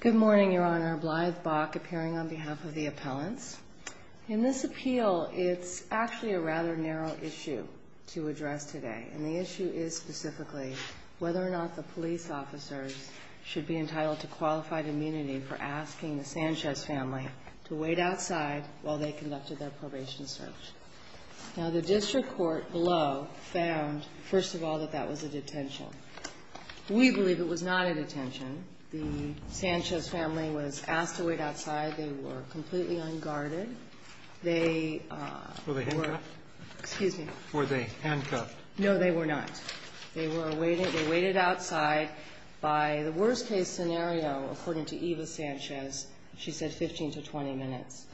Good morning, Your Honor. Blythe Bach, appearing on behalf of the appellants. In this appeal, it's actually a rather narrow issue to address today. And the issue is specifically whether or not the police officers should be entitled to qualified immunity for asking the Sanchez family to wait outside while they conducted their probation search. Now, the district court below found, first of all, that that was a detention. We believe it was not a detention. The Sanchez family was asked to wait outside. They were completely unguarded. They were. Were they handcuffed? Excuse me. Were they handcuffed? No, they were not. They were waiting. They waited outside by the worst-case scenario, according to Eva Sanchez. She said 15 to 20 minutes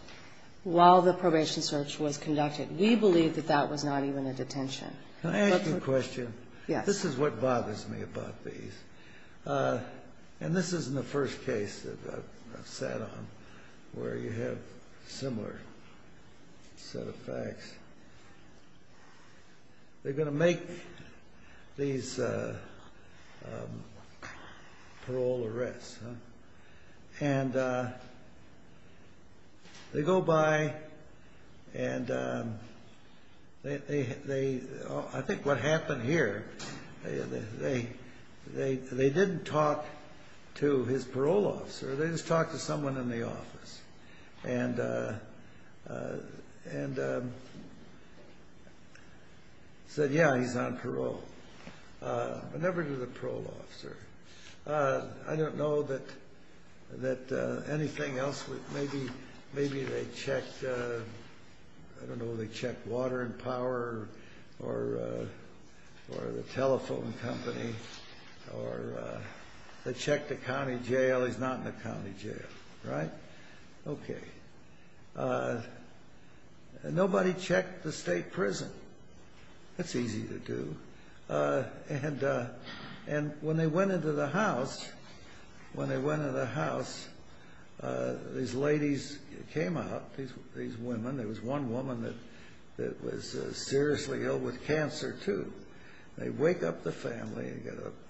while the probation search was conducted. We believe that that was not even a detention. Can I ask you a question? Yes. This is what bothers me about these. And this isn't the first case that I've sat on where you have a similar set of facts. They're going to make these parole arrests. And they go by, and I think what happened here, they didn't talk to his parole officer. They just talked to someone in the office and said, yeah, he's on parole. But never to the parole officer. I don't know that anything else. Maybe they checked, I don't know, they checked Water and Power or the telephone company. Or they checked the county jail. He's not in the county jail, right? Okay. Nobody checked the state prison. That's easy to do. And when they went into the house, when they went into the house, these ladies came out, these women. There was one woman that was seriously ill with cancer, too. They wake up the family.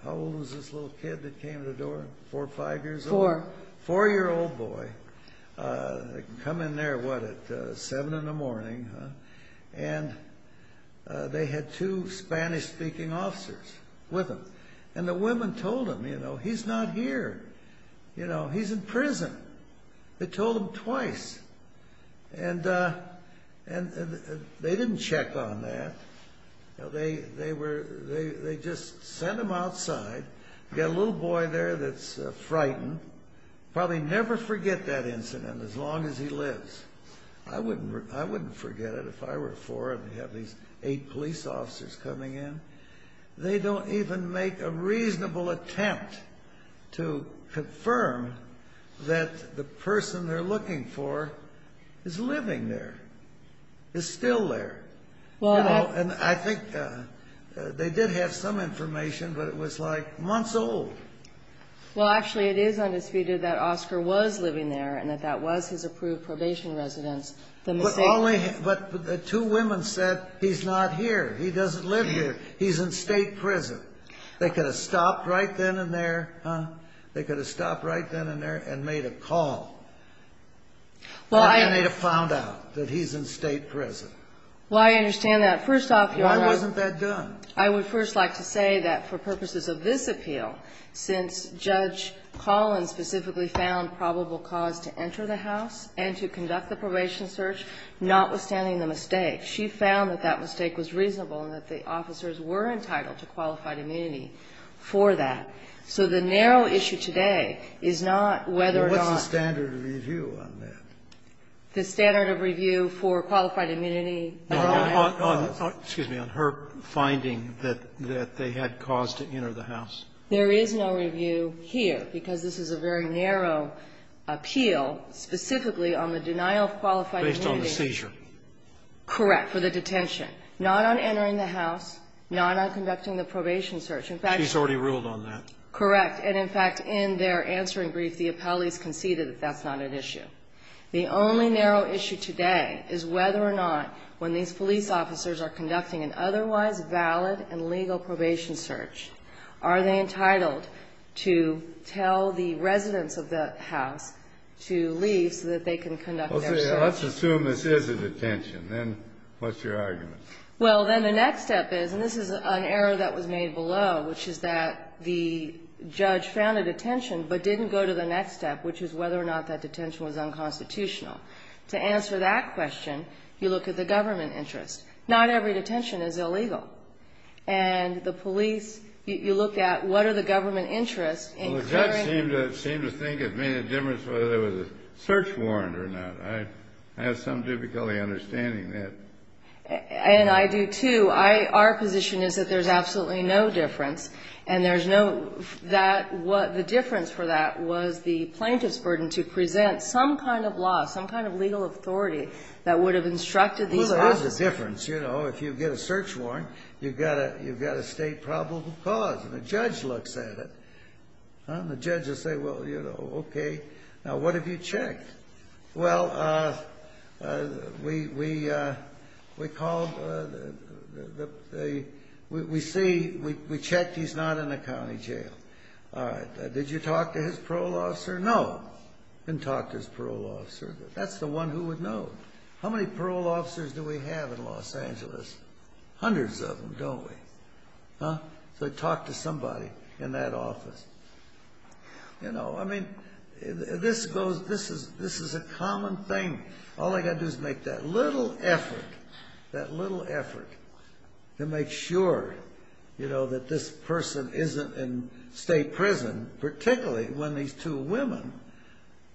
How old was this little kid that came to the door? Four or five years old? Four. Four-year-old boy. They come in there, what, at seven in the morning. And they had two Spanish-speaking officers with them. And the women told him, you know, he's not here. You know, he's in prison. They told him twice. And they didn't check on that. They just sent him outside. Got a little boy there that's frightened. Probably never forget that incident as long as he lives. I wouldn't forget it if I were four and had these eight police officers coming in. They don't even make a reasonable attempt to confirm that the person they're looking for is living there, is still there. And I think they did have some information, but it was, like, months old. Well, actually, it is undisputed that Oscar was living there and that that was his approved probation residence. But only the two women said he's not here. He doesn't live here. He's in state prison. They could have stopped right then and there, huh? They could have stopped right then and there and made a call. Well, I need to find out that he's in state prison. Well, I understand that. First off, Your Honor. Why wasn't that done? I would first like to say that for purposes of this appeal, since Judge Collins specifically found probable cause to enter the house and to conduct the probation search, notwithstanding the mistake, she found that that mistake was reasonable and that the officers were entitled to qualified immunity for that. So the narrow issue today is not whether or not the standard of review for qualified immunity or not. Excuse me. On her finding that they had cause to enter the house. There is no review here, because this is a very narrow appeal specifically on the denial of qualified immunity. Based on the seizure. Correct. For the detention. Not on entering the house, not on conducting the probation search. In fact, she's already ruled on that. Correct. And, in fact, in their answering brief, the appellees conceded that that's not an issue. The only narrow issue today is whether or not when these police officers are conducting an otherwise valid and legal probation search, are they entitled to tell the residents of the house to leave so that they can conduct their search? Well, let's assume this is a detention. Then what's your argument? Well, then the next step is, and this is an error that was made below, which is that the judge found a detention but didn't go to the next step, which is whether or not that detention was unconstitutional. To answer that question, you look at the government interest. Not every detention is illegal. And the police, you look at what are the government interests. Well, the judge seemed to think it made a difference whether there was a search warrant or not. I have some difficulty understanding that. And I do, too. Our position is that there's absolutely no difference. And there's no, the difference for that was the plaintiff's burden to present some kind of law, some kind of legal authority that would have instructed these officers. Well, there is a difference. You know, if you get a search warrant, you've got a state probable cause. And the judge looks at it. And the judge will say, well, you know, okay, now what have you checked? Well, we called the, we see, we checked he's not in the county jail. All right. Did you talk to his parole officer? No. Didn't talk to his parole officer. That's the one who would know. How many parole officers do we have in Los Angeles? Hundreds of them, don't we? Huh? So he talked to somebody in that office. You know, I mean, this goes, this is a common thing. All I've got to do is make that little effort, that little effort to make sure, you know, that this person isn't in state prison, particularly when these two women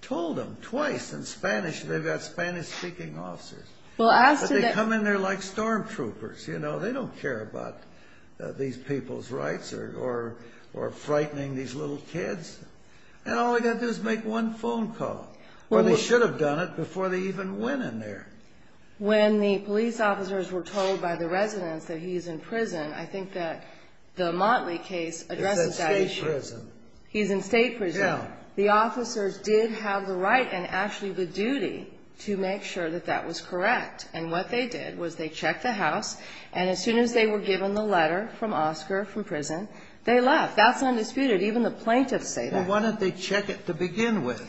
told them twice in Spanish, they've got Spanish-speaking officers. But they come in there like storm troopers, you know. They don't care about these people's rights or frightening these little kids. And all I've got to do is make one phone call. Or they should have done it before they even went in there. When the police officers were told by the residents that he's in prison, I think that the Motley case addresses that issue. He's in state prison. He's in state prison. Yeah. The officers did have the right and actually the duty to make sure that that was correct. And what they did was they checked the house. And as soon as they were given the letter from Oscar from prison, they left. That's undisputed. Even the plaintiffs say that. Well, why don't they check it to begin with?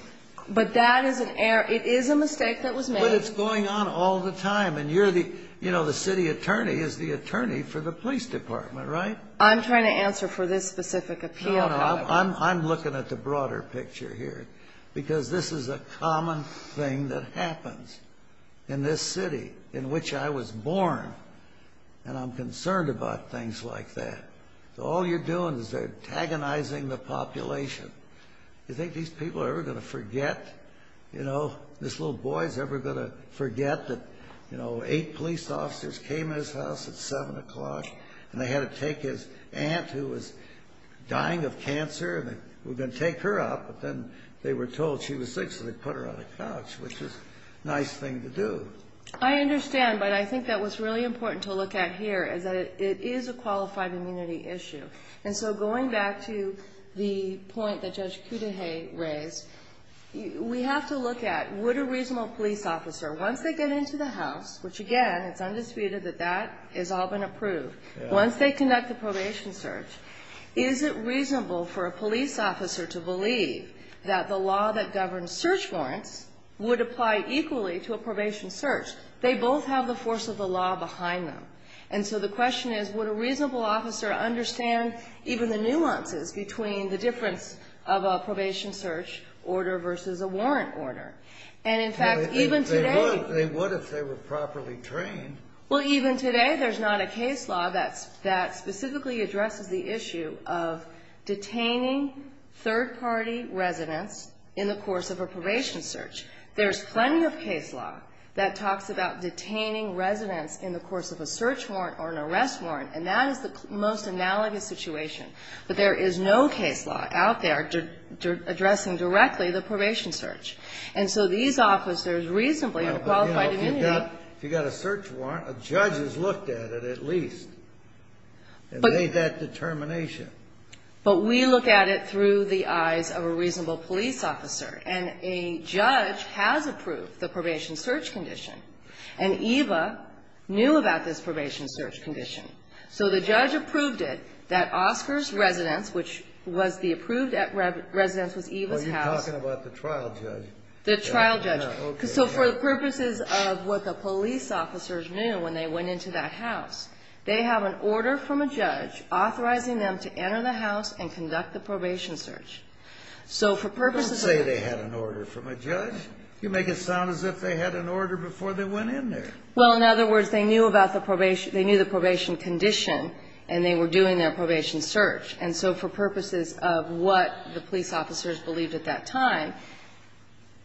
But that is an error. It is a mistake that was made. But it's going on all the time. And you're the, you know, the city attorney is the attorney for the police department, right? I'm trying to answer for this specific appeal. No, no. I'm looking at the broader picture here. Because this is a common thing that happens in this city in which I was born. And I'm concerned about things like that. All you're doing is antagonizing the population. You think these people are ever going to forget, you know, this little boy is ever going to forget that, you know, eight police officers came in his house at 7 o'clock and they had to take his aunt, who was dying of cancer, and they were going to take her up. But then they were told she was sick, so they put her on the couch, which is a nice thing to do. I understand. But I think that what's really important to look at here is that it is a qualified immunity issue. And so going back to the point that Judge Cudahy raised, we have to look at would a reasonable police officer, once they get into the house, which, again, it's undisputed that that has all been approved, once they conduct the probation search, is it reasonable for a police officer to believe that the law that governs search warrants would apply equally to a probation search? They both have the force of the law behind them. And so the question is, would a reasonable officer understand even the nuances between the difference of a probation search order versus a warrant order? And, in fact, even today they would if they were properly trained. Well, even today, there's not a case law that specifically addresses the issue of detaining third-party residents in the course of a probation search. There's plenty of case law that talks about detaining residents in the course of a search warrant or an arrest warrant, and that is the most analogous situation. But there is no case law out there addressing directly the probation search. And so these officers reasonably have qualified immunity. But, you know, if you've got a search warrant, a judge has looked at it at least and made that determination. But we look at it through the eyes of a reasonable police officer, and a judge has approved the probation search condition, and Eva knew about this probation search condition. So the judge approved it that Oscar's residence, which was the approved residence was Eva's house. You're talking about the trial judge. The trial judge. Okay. So for the purposes of what the police officers knew when they went into that house, they have an order from a judge authorizing them to enter the house and conduct the probation search. So for purposes of the court. Don't say they had an order from a judge. You make it sound as if they had an order before they went in there. Well, in other words, they knew about the probation they knew the probation condition, and they were doing their probation search. And so for purposes of what the police officers believed at that time,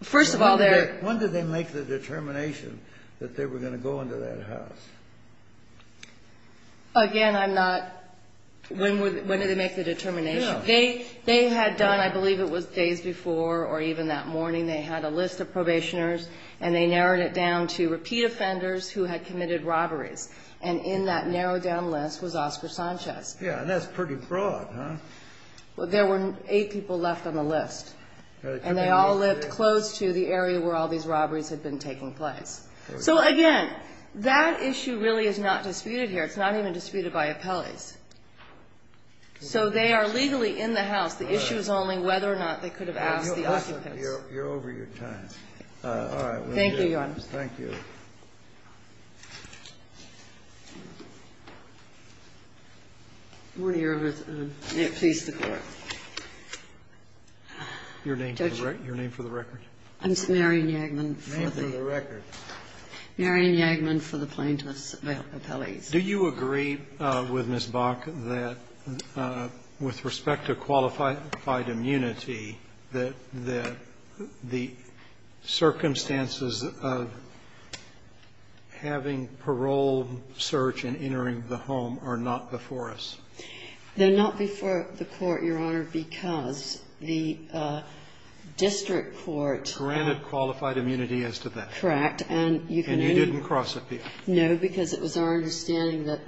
first of all, when did they make the determination that they were going to go into that house? Again, I'm not. When did they make the determination? They had done, I believe it was days before or even that morning, they had a list of probationers and they narrowed it down to repeat offenders who had committed robberies. And in that narrowed down list was Oscar Sanchez. Yeah. And that's pretty broad, huh? Well, there were eight people left on the list. And they all lived close to the area where all these robberies had been taking place. So again, that issue really is not disputed here. It's not even disputed by appellees. So they are legally in the house. The issue is only whether or not they could have asked the occupants. You're over your time. All right. Thank you, Your Honor. Thank you. Good morning, Your Honor. May it please the Court. Your name for the record? I'm Marian Yagman. Name for the record. Marian Yagman for the plaintiffs' appellees. Do you agree with Ms. Bach that with respect to qualified immunity, that the circumstances of having parole search and entering the home are not before us? They're not before the Court, Your Honor, because the district court granted qualified immunity as to that. Correct. And you can only And you didn't cross it, did you? No, because it was our understanding that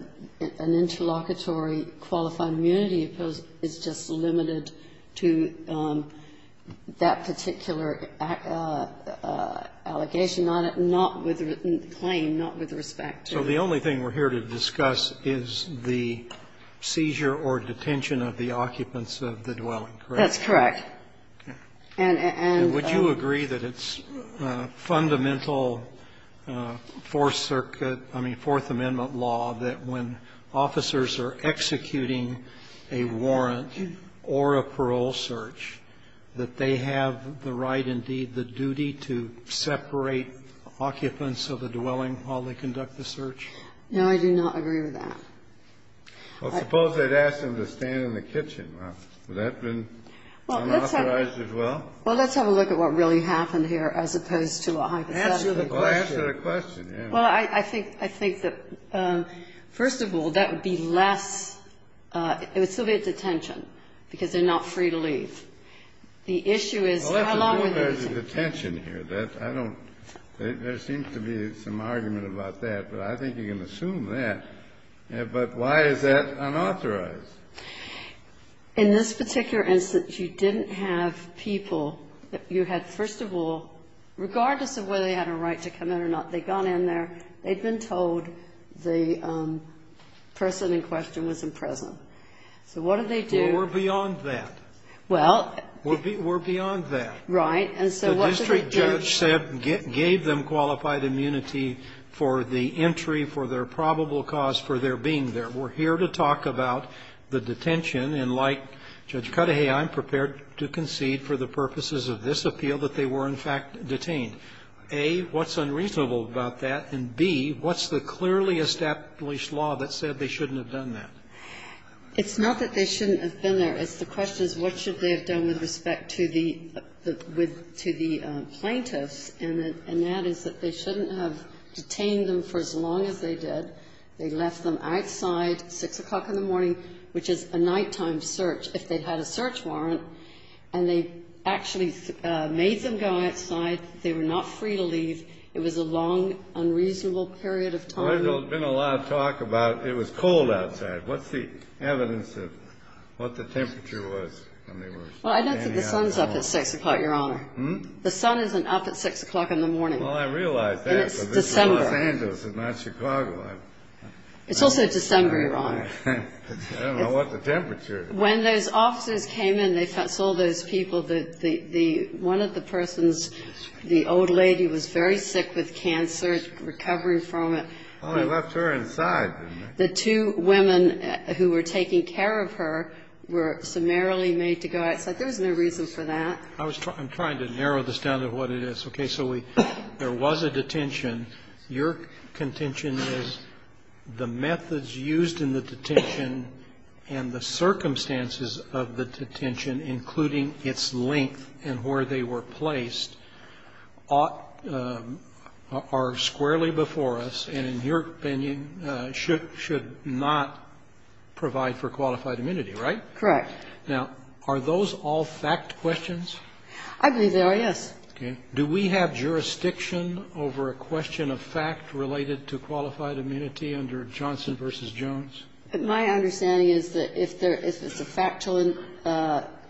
an interlocutory qualified immunity is just limited to that particular allegation, not with claim, not with respect to So the only thing we're here to discuss is the seizure or detention of the occupants of the dwelling, correct? That's correct. And would you agree that it's fundamental Fourth Circuit, I mean, Fourth Amendment law, that when officers are executing a warrant or a parole search, that they have the right, indeed, the duty to separate occupants of the dwelling while they conduct the search? No, I do not agree with that. Well, suppose they'd ask them to stand in the kitchen. Would that have been unauthorized as well? Well, let's have a look at what really happened here as opposed to a hypothetical question. Well, ask her a question. Well, I think that, first of all, that would be less It would still be a detention because they're not free to leave. The issue is how long were they detained? Well, there's a detention here. I don't There seems to be some argument about that, but I think you can assume that. But why is that unauthorized? In this particular instance, you didn't have people You had, first of all, regardless of whether they had a right to come in or not, they'd gone in there, they'd been told the person in question was in prison. So what did they do? Well, we're beyond that. Well. We're beyond that. Right. And so what did they do? The district judge said, gave them qualified immunity for the entry for their probable cause for their being there. We're here to talk about the detention, and like Judge Cudahy, I'm prepared to concede for the purposes of this appeal that they were, in fact, detained. A, what's unreasonable about that? And B, what's the clearly established law that said they shouldn't have done that? It's not that they shouldn't have been there. It's the question is what should they have done with respect to the plaintiffs, and that is that they shouldn't have detained them for as long as they did. They left them outside at 6 o'clock in the morning, which is a nighttime search. If they'd had a search warrant, and they actually made them go outside, they were not free to leave. It was a long, unreasonable period of time. Well, there's been a lot of talk about it was cold outside. What's the evidence of what the temperature was when they were standing outside? Well, I don't think the sun's up at 6 o'clock, Your Honor. Hmm? The sun isn't up at 6 o'clock in the morning. Well, I realize that, but this is Los Angeles and not Chicago. It's December. It's also December, Your Honor. I don't know what the temperature is. When those officers came in, they sold those people, the one of the persons, the old lady was very sick with cancer, recovering from it. Oh, they left her inside, didn't they? The two women who were taking care of her were summarily made to go outside. There was no reason for that. I was trying to narrow this down to what it is. Okay. So there was a detention. Your contention is the methods used in the detention and the circumstances of the detention, including its length and where they were placed, are squarely before us and, in your opinion, should not provide for qualified immunity, right? Correct. Now, are those all fact questions? I believe they are, yes. Okay. Do we have jurisdiction over a question of fact related to qualified immunity under Johnson v. Jones? My understanding is that if there is a factual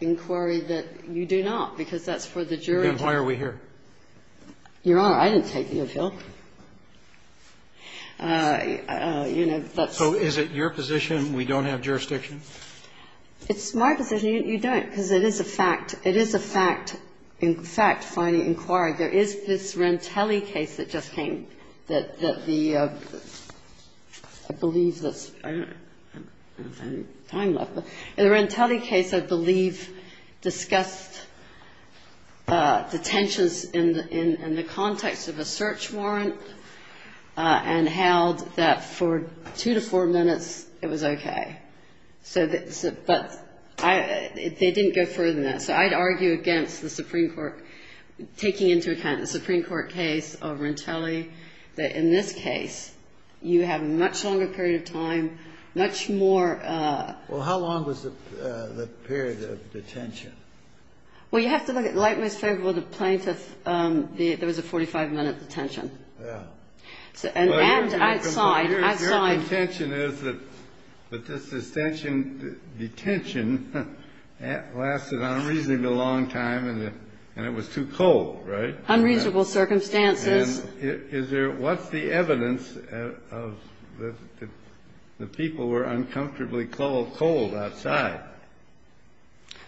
inquiry, that you do not, because that's for the jury to decide. Then why are we here? Your Honor, I didn't take the appeal. You know, that's why. So is it your position we don't have jurisdiction? It's my position you don't, because it is a fact. It is a fact. In fact, finding inquiry, there is this Rantelli case that just came that the, I believe that's, I don't have any time left, but the Rantelli case, I believe, discussed detentions in the context of a search warrant and held that for two to four minutes it was okay. So, but they didn't go further than that. So I'd argue against the Supreme Court taking into account the Supreme Court case of Rantelli, that in this case, you have a much longer period of time, much more Well, how long was the period of detention? Well, you have to look at, like Miss Favreau, the plaintiff, there was a 45-minute detention. Yeah. And outside, outside. My intention is that this detention lasted an unreasonable long time and it was too cold, right? Unreasonable circumstances. And is there, what's the evidence of the people were uncomfortably cold outside?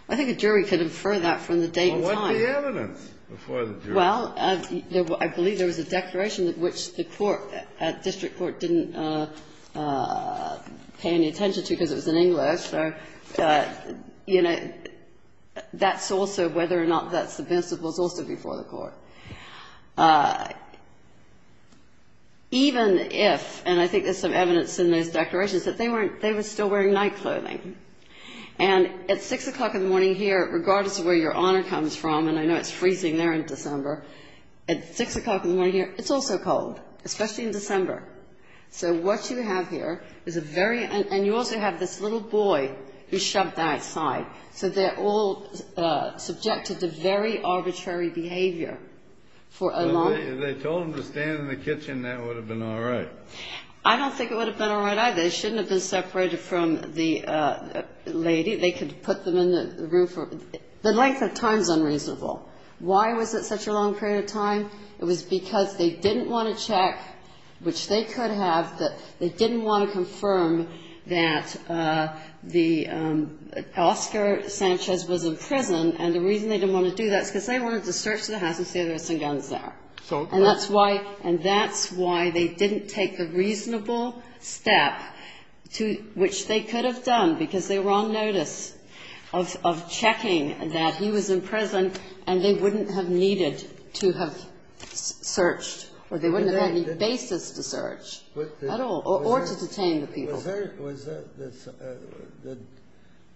I think a jury could infer that from the date and time. Well, what's the evidence before the jury? Well, I believe there was a declaration which the court, district court, didn't pay any attention to because it was in English. So, you know, that's also whether or not that's the principles also before the court. Even if, and I think there's some evidence in those declarations, that they weren't they were still wearing night clothing. And at 6 o'clock in the morning here, regardless of where your honor comes from, and I know it's freezing there in December, at 6 o'clock in the morning here, it's also cold, especially in December. So what you have here is a very, and you also have this little boy who's shoved outside. So they're all subjected to very arbitrary behavior for a long time. If they told them to stand in the kitchen, that would have been all right. I don't think it would have been all right either. They shouldn't have been separated from the lady. The length of time is unreasonable. Why was it such a long period of time? It was because they didn't want to check, which they could have, that they didn't want to confirm that Oscar Sanchez was in prison. And the reason they didn't want to do that is because they wanted to search the house and see if there were some guns there. And that's why they didn't take the reasonable step, which they could have done, because they were on notice of checking that he was in prison and they wouldn't have needed to have searched or they wouldn't have had any basis to search at all or to detain the people.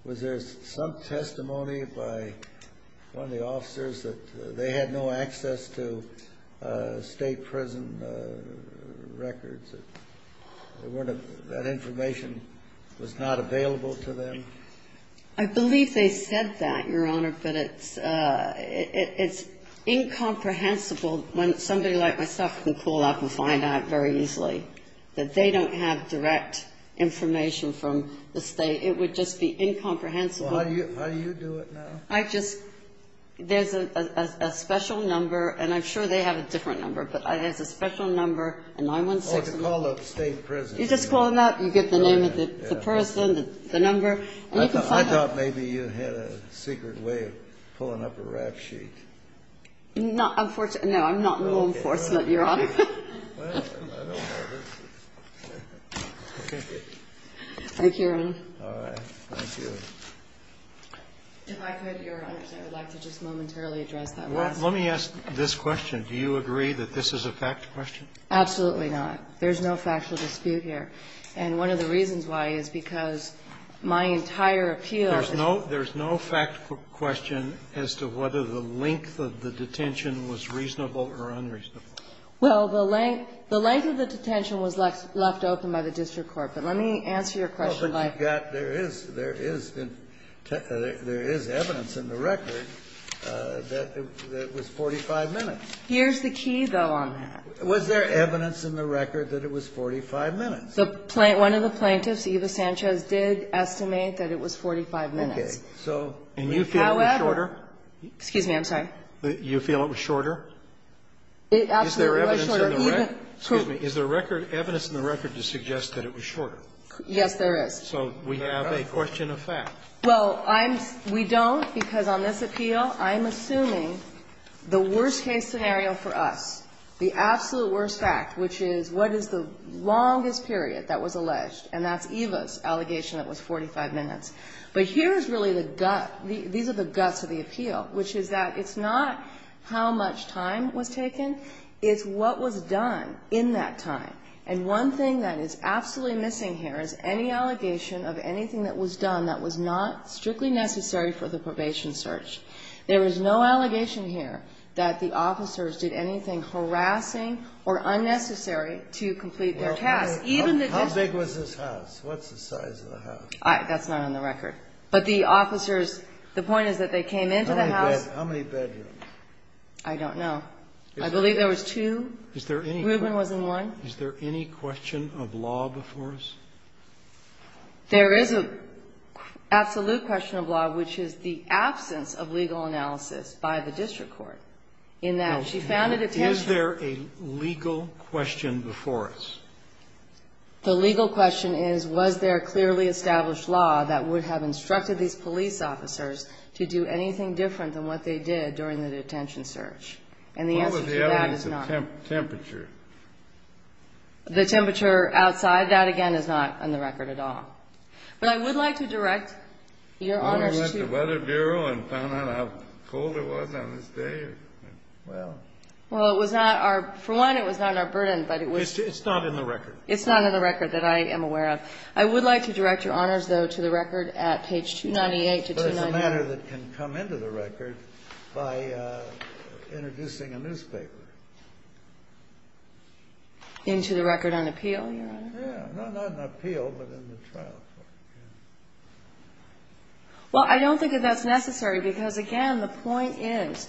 Was there some testimony by one of the officers that they had no access to state prison records? That information was not available to them? I believe they said that, Your Honor, but it's incomprehensible when somebody like myself can pull up and find out very easily that they don't have direct information from the state. It would just be incomprehensible. Well, how do you do it now? I just, there's a special number, and I'm sure they have a different number, but it has a special number, a 916 number. Oh, to call up state prison. You just call them up. You get the name of the person, the number, and you can find out. I thought maybe you had a secret way of pulling up a rap sheet. No, I'm not law enforcement, Your Honor. Well, I don't know. Thank you, Your Honor. All right. Thank you. If I could, Your Honors, I would like to just momentarily address that last one. Let me ask this question. Do you agree that this is a fact question? Absolutely not. There's no factual dispute here. And one of the reasons why is because my entire appeal as to whether the length of the detention was reasonable or unreasonable. Well, the length of the detention was left open by the district court. But let me answer your question by the fact that there is evidence in the record that it was 45 minutes. Here's the key, though, on that. Was there evidence in the record that it was 45 minutes? One of the plaintiffs, Eva Sanchez, did estimate that it was 45 minutes. Okay. So however. And you feel it was shorter? Excuse me. I'm sorry. You feel it was shorter? It absolutely was shorter. Excuse me. Is there evidence in the record to suggest that it was shorter? Yes, there is. So we have a question of fact. Well, we don't because on this appeal I'm assuming the worst-case scenario for us, the absolute worst fact, which is what is the longest period that was alleged, and that's Eva's allegation that it was 45 minutes. But here is really the gut, these are the guts of the appeal, which is that it's not how much time was taken, it's what was done in that time. And one thing that is absolutely missing here is any allegation of anything that was done that was not strictly necessary for the probation search. There is no allegation here that the officers did anything harassing or unnecessary to complete their task. Well, how big was this house? What's the size of the house? That's not on the record. But the officers, the point is that they came into the house. How many bedrooms? I don't know. I believe there was two. Is there any question? Reuben was in one. Is there any question of law before us? There is an absolute question of law, which is the absence of legal analysis by the district court, in that she found it attentional. Now, is there a legal question before us? The legal question is, was there clearly established law that would have instructed these police officers to do anything different than what they did during the detention search? And the answer to that is not. What were the elements of temperature? The temperature outside. That, again, is not on the record at all. But I would like to direct your honors to you. Why don't we let the Weather Bureau and find out how cold it was on this day? Well, it was not our – for one, it was not our burden, but it was – It's not in the record. It's not in the record that I am aware of. I would like to direct your honors, though, to the record at page 298 to 299. It's a matter that can come into the record by introducing a newspaper. Into the record on appeal, your honor? Yeah. Not on appeal, but in the trial court. Well, I don't think that that's necessary because, again, the point is,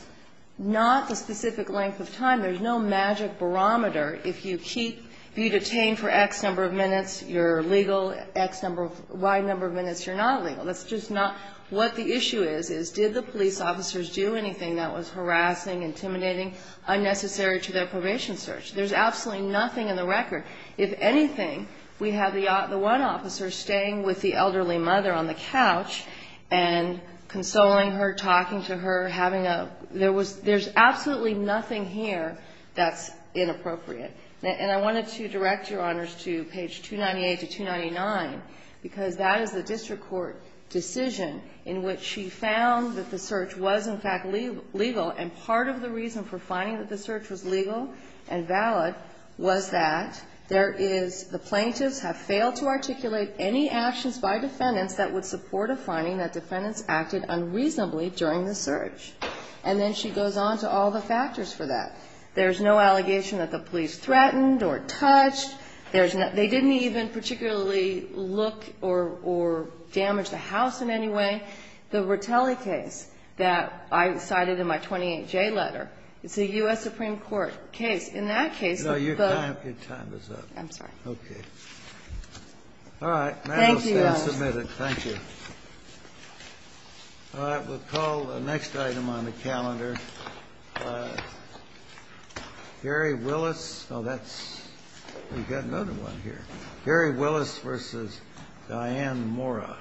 not the specific length of time. There's no magic barometer. If you keep – if you're detained for X number of minutes, you're legal. X number of – Y number of minutes, you're not legal. That's just not – what the issue is, is did the police officers do anything that was harassing, intimidating, unnecessary to their probation search? There's absolutely nothing in the record. If anything, we have the one officer staying with the elderly mother on the couch and consoling her, talking to her, having a – there was – there's absolutely nothing here that's inappropriate. And I wanted to direct your honors to page 298 to 299 because that is the district court decision in which she found that the search was, in fact, legal. And part of the reason for finding that the search was legal and valid was that there is – the plaintiffs have failed to articulate any actions by defendants that would support a finding that defendants acted unreasonably during the search. And then she goes on to all the factors for that. There's no allegation that the police threatened or touched. There's no – they didn't even particularly look or damage the house in any way. The Rotelli case that I cited in my 28J letter, it's a U.S. Supreme Court case. In that case, the – Kennedy, your time is up. I'm sorry. All right. Thank you, Your Honor. Thank you. All right. We'll call the next item on the calendar. Gary Willis. Oh, that's – we've got another one here. Gary Willis v. Diane Mora.